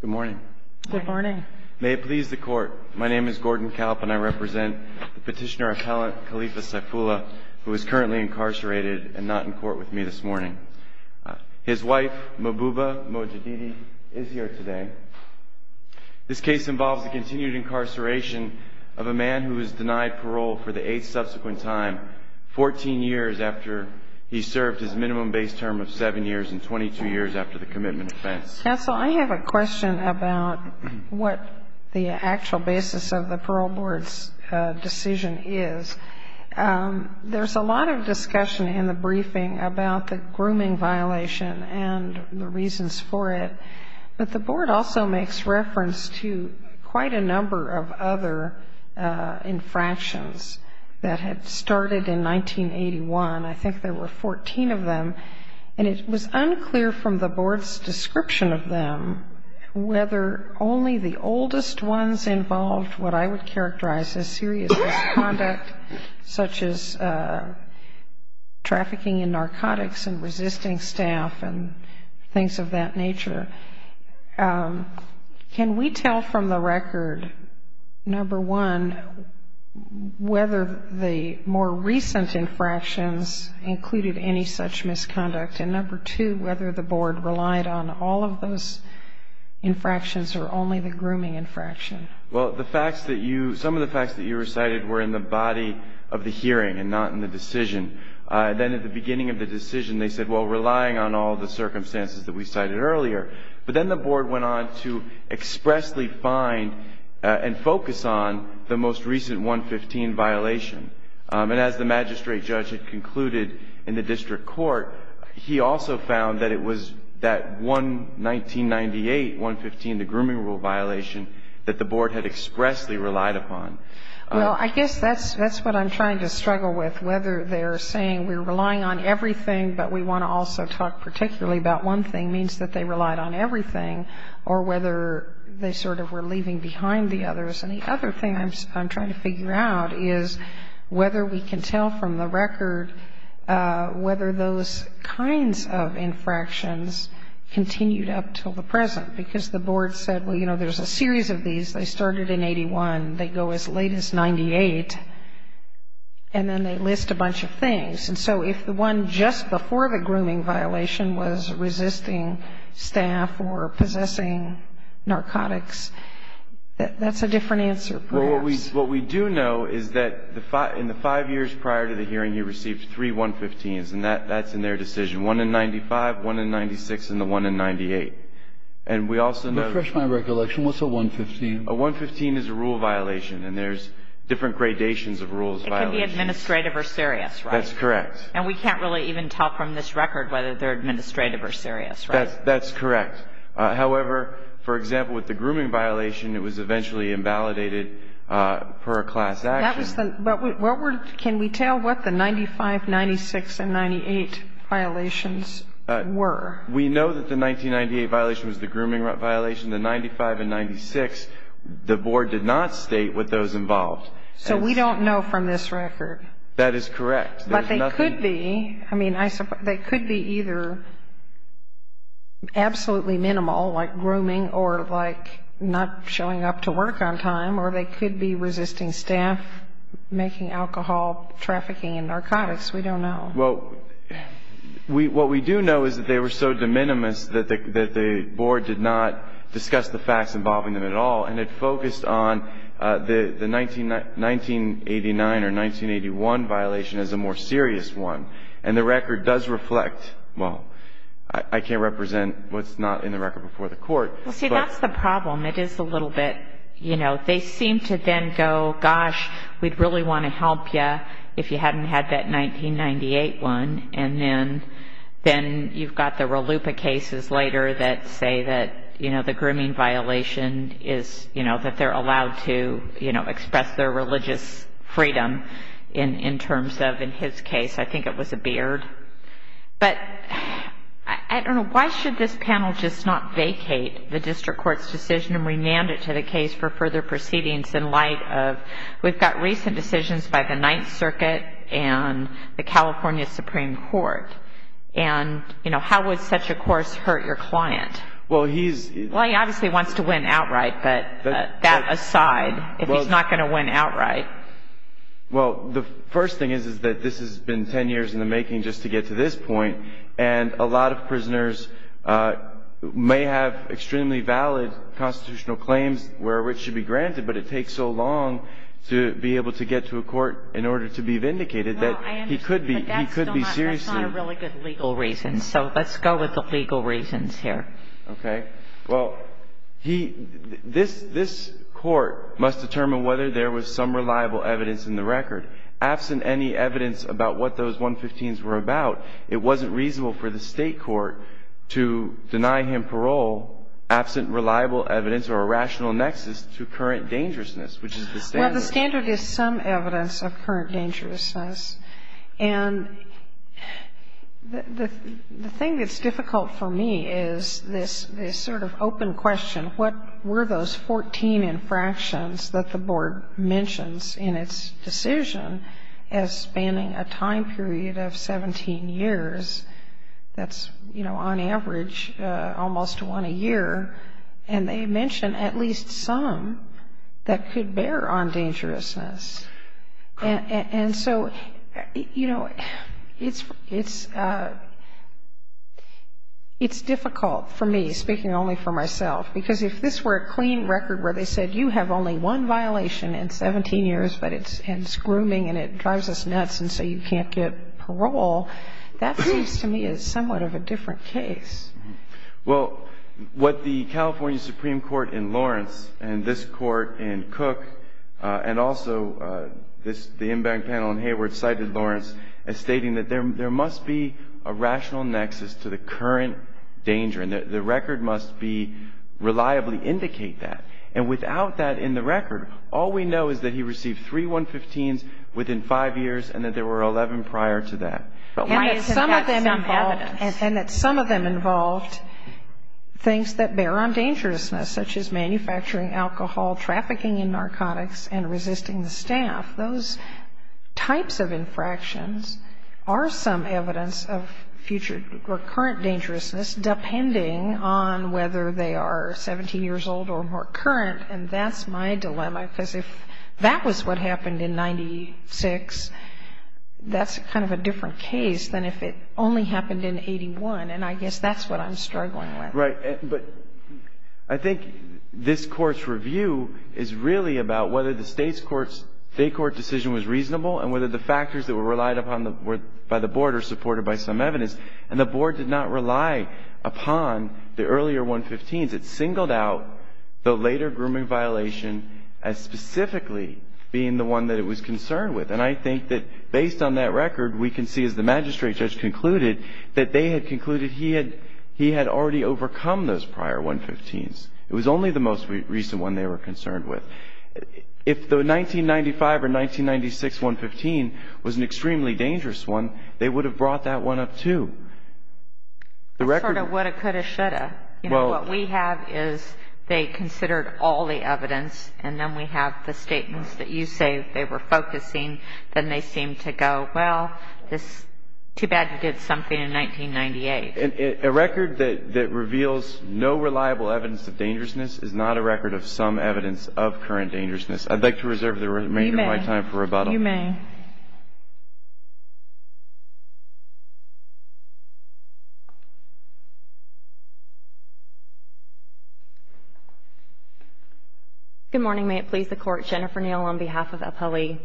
Good morning. May it please the court, my name is Gordon Kalp and I represent the petitioner appellant Khalifa Saif'Ullah who is currently incarcerated and not in court with me this morning. His wife Mububa Mojadidi is here today. This case involves the continued incarceration of a man who was denied parole for the eight subsequent time, 14 years after he served his minimum base term of seven years and 22 years after the commitment offense. Counsel, I have a question about what the actual basis of the parole board's decision is. There's a lot of discussion in the briefing about the grooming violation and the reasons for it, but the board also makes reference to quite a number of other infractions that had started in 1981. I think there were 14 of them and it was unclear from the board's description of them whether only the oldest ones involved what I would characterize as serious misconduct such as trafficking in narcotics and resisting staff and things of that nature. Can we tell from the record, number one, whether the more recent infractions included any such misconduct and number two, whether the board relied on all of those infractions or only the grooming infraction? Well, some of the facts that you recited were in the body of the hearing and not in the decision. Then at the beginning of the decision they said, well, relying on all the circumstances that we cited earlier, but then the board went on to expressly find and focus on the most recent 115 violation. And as the magistrate judge had concluded in the district court, he also found that it was that 1998 115, the grooming rule violation, that the board had expressly relied upon. Well, I guess that's what I'm trying to struggle with, whether they're saying we're relying on everything but we want to also talk particularly about one thing means that they relied on everything or whether they sort of were leaving behind the others. And the other thing I'm trying to figure out is whether we can tell from the record whether those kinds of infractions continued up until the present. Because the board said, well, you know, there's a series of these. They started in 81. They go as late as 98. And then they list a bunch of things. And so if the one just before the grooming violation was resisting staff or possessing narcotics, that's a different answer, perhaps. Well, what we do know is that in the five years prior to the hearing, he received three 115s. And that's in their decision, one in 95, one in 96, and the one in 98. And we also know Refresh my recollection. What's a 115? A 115 is a rule violation. And there's different gradations of rules violations. It could be administrative or serious, right? That's correct. And we can't really even tell from this record whether they're administrative or serious, right? That's correct. However, for example, with the grooming violation, it was eventually invalidated per a class action. Can we tell what the 95, 96, and 98 violations were? We know that the 1998 violation was the grooming violation. The 95 and 96, the board did not state what those involved. So we don't know from this record. That is correct. But they could be, I mean, they could be either absolutely minimal, like grooming, or like not showing up to work on time, or they could be resisting staff, making alcohol, trafficking and narcotics. We don't know. Well, what we do know is that they were so de minimis that the board did not discuss the facts involving them at all, and it focused on the 1989 or 1981 violation as a more serious one. And the record does reflect, well, I can't represent what's not in the record before the court. Well, see, that's the problem. It is a little bit, you know, they seem to then go, gosh, we'd really want to help you if you hadn't had that 1998 one. And then you've got the grooming violation is, you know, that they're allowed to, you know, express their religious freedom in terms of, in his case, I think it was a beard. But I don't know, why should this panel just not vacate the district court's decision and remand it to the case for further proceedings in light of, we've got recent decisions by the Ninth Circuit and the California Supreme Court. And, you know, how would such a course hurt your client? Well, he's Well, he obviously wants to win outright, but that aside, if he's not going to win outright. Well, the first thing is, is that this has been 10 years in the making just to get to this point. And a lot of prisoners may have extremely valid constitutional claims where which should be granted, but it takes so long to be able to get to a court in order to be vindicated that he could be, he could be seriously For a lot of really good legal reasons. So let's go with the legal reasons here. Okay. Well, he, this, this court must determine whether there was some reliable evidence in the record. Absent any evidence about what those 115s were about, it wasn't reasonable for the state court to deny him parole absent reliable evidence or a rational nexus to current dangerousness, which is the standard. The standard is some evidence of current dangerousness. And the thing that's difficult for me is this, this sort of open question. What were those 14 infractions that the board mentions in its decision as spanning a time period of 17 years? That's, you know, on average almost one a year. And they mention at least some that could bear on dangerousness. And so, you know, it's, it's, it's difficult for me, speaking only for myself, because if this were a clean record where they said you have only one violation in 17 years, but it's, and it's grooming and it drives us nuts and so you can't get parole, that seems to me is somewhat of a different case. Well, what the California Supreme Court in Lawrence and this court in Cook and also this, the inbound panel in Hayward cited Lawrence as stating that there, there must be a rational nexus to the current danger and that the record must be reliably indicate that. And without that in the record, all we know is that he received three 115s within five years and that there were 11 prior to that. But why is that some evidence? And that some of them involved things that bear on dangerousness, such as manufacturing alcohol, trafficking in narcotics, and resisting the staff. Those types of infractions are some evidence of future or current dangerousness, depending on whether they are 17 years old or more current. And that's my dilemma, because if that was what happened in 96, that's kind of a different case than if it only happened in 81. And I guess that's what I'm struggling with. Right. But I think this court's review is really about whether the state's court's, state court decision was reasonable and whether the factors that were relied upon by the board are supported by some evidence. And the board did not rely upon the earlier 115s. It singled out the later grooming violation as specifically being the one that it was concerned with. And I think that based on that record, we can see, as the magistrate judge concluded, that they had concluded he had already overcome those prior 115s. It was only the most recent one they were concerned with. If the 1995 or 1996 115 was an extremely dangerous one, they would have brought that one up, too. The record of what it could have, should have. You know, what we have is they considered all the evidence, and then we have the statements that you say they were focusing. Then they seem to go, well, it's too bad you did something in 1998. A record that reveals no reliable evidence of dangerousness is not a record of some evidence of current dangerousness. I'd like to reserve the remainder of my time for rebuttal. You may. Good morning. May it please the Court. Jennifer Neal on behalf of Appellee.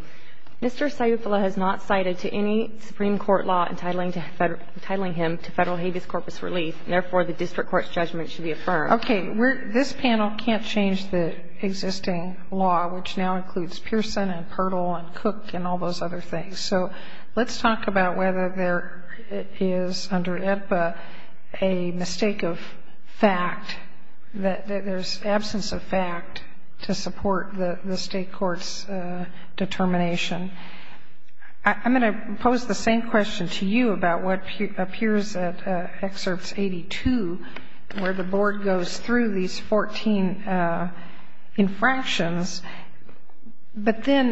Mr. Sayufullah has not cited to any Supreme Court law entitling him to Federal Habeas Corpus relief, and therefore the district court's judgment should be affirmed. Okay. This panel can't change the existing law, which now includes Pearson and Pertl and Cook and all those other things. So let's talk about whether there is under AEDPA a mistake of fact, that there's absence of fact to support the state court's determination. I'm going to pose the same question to you about what appears at Excerpts 82, where the Well, the state court,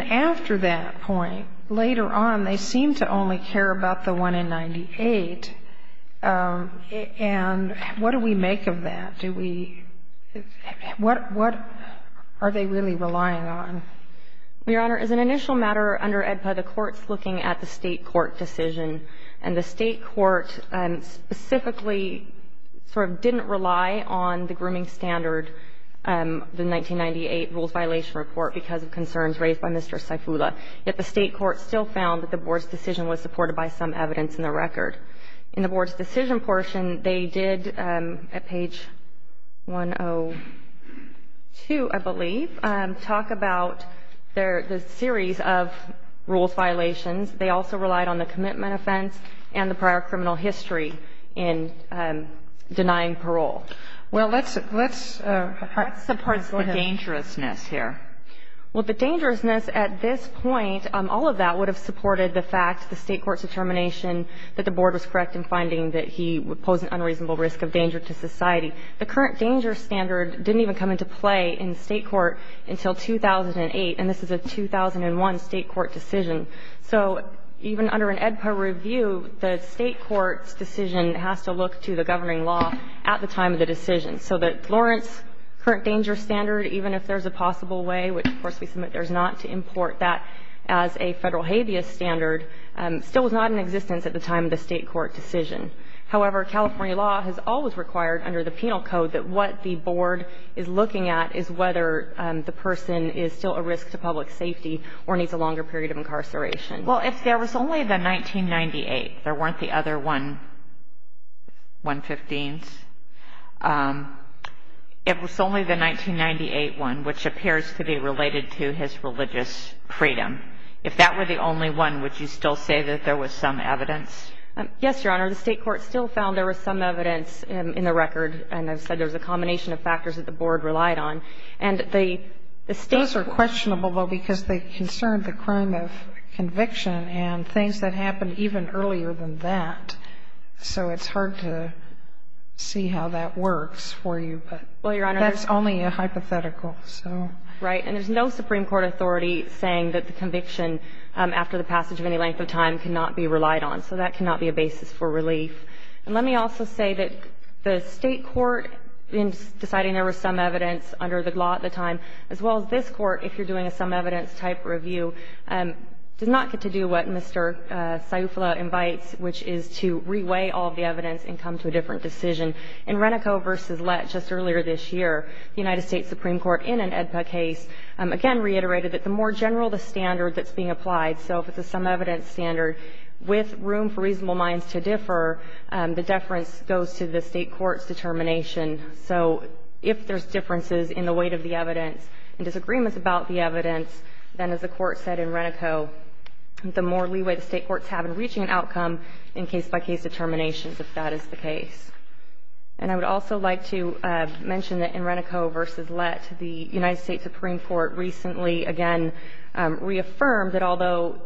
after that point, later on, they seem to only care about the one in 98. And what do we make of that? Do we – what are they really relying on? Your Honor, as an initial matter, under AEDPA, the Court's looking at the state court decision, and the state court specifically sort of didn't rely on the grooming standard, the 1998 Rules Violation Report, because of concerns raised by Mr. Saifullah. Yet the state court still found that the Board's decision was supported by some evidence in the record. In the Board's decision portion, they did, at page 102, I believe, talk about the series of rules violations. They also relied on the commitment offense and the prior criminal history in denying parole. Well, let's – let's – That supports the dangerousness here. Well, the dangerousness at this point, all of that would have supported the fact, the state court's determination that the Board was correct in finding that he would pose an unreasonable risk of danger to society. The current danger standard didn't even come into play in the state court until 2008, and this is a 2001 state court decision. So even under an AEDPA review, the state court's decision has to look to the governing law at the time of the decision. So that Lawrence current danger standard, even if there's a possible way, which, of course, we submit there's not, to import that as a Federal habeas standard, still was not in existence at the time of the state court decision. However, California law has always required, under the penal code, that what the Board is looking at is whether the person is still a risk to public safety or needs a longer period of incarceration. Well, if there was only the 1998, there weren't the other one – 115s – if it was only the 1998 one, which appears to be related to his religious freedom, if that were the only one, would you still say that there was some evidence? Yes, Your Honor. The state court still found there was some evidence in the record, and I've said there's a combination of factors that the Board relied on. And the state court – Those are questionable, though, because they concern the crime of conviction and things that happened even earlier than that. So it's hard to see how that works for you, but that's only a hypothetical. Right. And there's no Supreme Court authority saying that the conviction after the passage of any length of time cannot be relied on. So that cannot be a basis for relief. And let me also say that the state court, in deciding there was some evidence under the law at the time, as well as this Court, if you're doing a some-evidence-type review, does not get to do what Mr. Saeufla invites, which is to reweigh all the evidence and come to a different decision. In Renico v. Lett just earlier this year, the United States Supreme Court, in an AEDPA case, again reiterated that the more general the standard that's being applied – so if it's a some-evidence standard with room for reasonable minds to differ – the deference goes to the state court's determination. So if there's differences in the weight of the evidence and disagreements about the evidence, then, as the Court said in Renico, the more leeway the state courts have in reaching an outcome in case-by-case determinations, if that is the case. And I would also like to mention that in Renico v. Lett, the United States Supreme Court recently, again, reaffirmed that although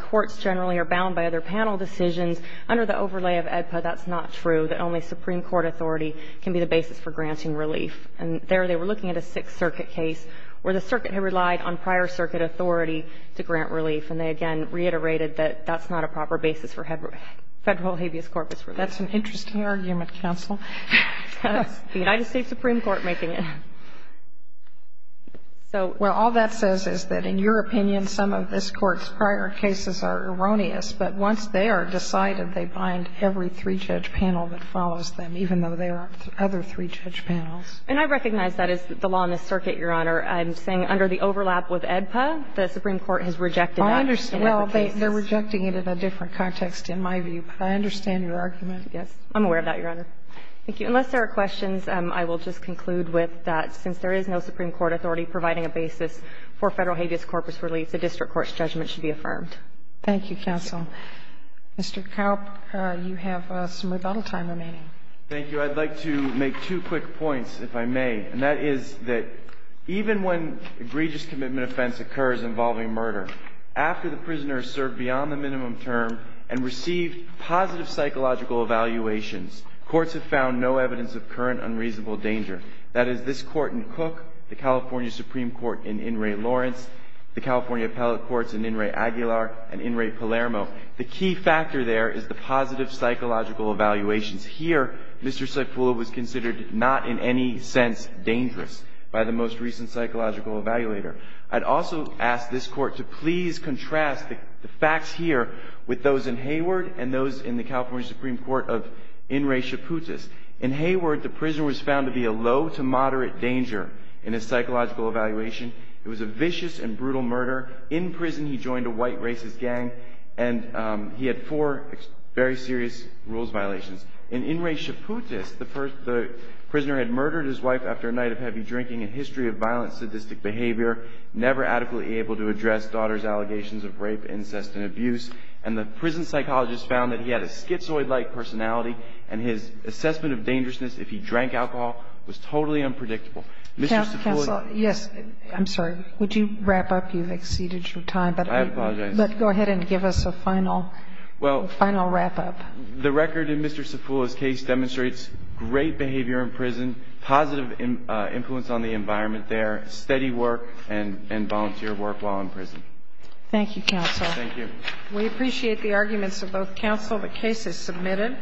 courts generally are bound by other constitutional decisions, under the overlay of AEDPA, that's not true, that only Supreme Court authority can be the basis for granting relief. And there they were looking at a Sixth Circuit case where the circuit had relied on prior circuit authority to grant relief, and they again reiterated that that's not a proper basis for federal habeas corpus relief. That's an interesting argument, counsel. The United States Supreme Court making it. Well, all that says is that, in your opinion, some of this Court's prior cases are erroneous, but once they are decided, they bind every three-judge panel that follows them, even though there are other three-judge panels. And I recognize that is the law in this circuit, Your Honor. I'm saying under the overlap with AEDPA, the Supreme Court has rejected that. I understand. Well, they're rejecting it in a different context, in my view. But I understand your argument. Yes. I'm aware of that, Your Honor. Thank you. Unless there are questions, I will just conclude with that. Since there is no Supreme Court authority providing a basis for federal habeas corpus relief, the district court's judgment should be affirmed. Thank you, counsel. Mr. Kaupp, you have some rebuttal time remaining. Thank you. I'd like to make two quick points, if I may, and that is that even when egregious commitment offense occurs involving murder, after the prisoner has served beyond the minimum term and received positive psychological evaluations, courts have found no evidence of current unreasonable danger. That is, this Court in Cook, the California Supreme Court in In re. Aguilar and In re. Palermo, the key factor there is the positive psychological evaluations. Here, Mr. Cipolla was considered not in any sense dangerous by the most recent psychological evaluator. I'd also ask this Court to please contrast the facts here with those in Hayward and those in the California Supreme Court of In re. Chaputis. In Hayward, the prisoner was found to be a low to moderate danger in his psychological evaluation. It was a vicious and brutal murder. In prison, he joined a white racist gang and he had four very serious rules violations. In In re. Chaputis, the prisoner had murdered his wife after a night of heavy drinking and history of violent, sadistic behavior, never adequately able to address daughter's allegations of rape, incest and abuse. And the prison psychologist found that he had a schizoid-like personality and his assessment of dangerousness if he drank alcohol was totally unpredictable. Mr. Cipolla. Counsel, yes. I'm sorry. Would you wrap up? You've exceeded your time. I apologize. But go ahead and give us a final wrap-up. Well, the record in Mr. Cipolla's case demonstrates great behavior in prison, positive influence on the environment there, steady work and volunteer work while in prison. Thank you, Counsel. Thank you. We appreciate the arguments of both counsel. The case is submitted.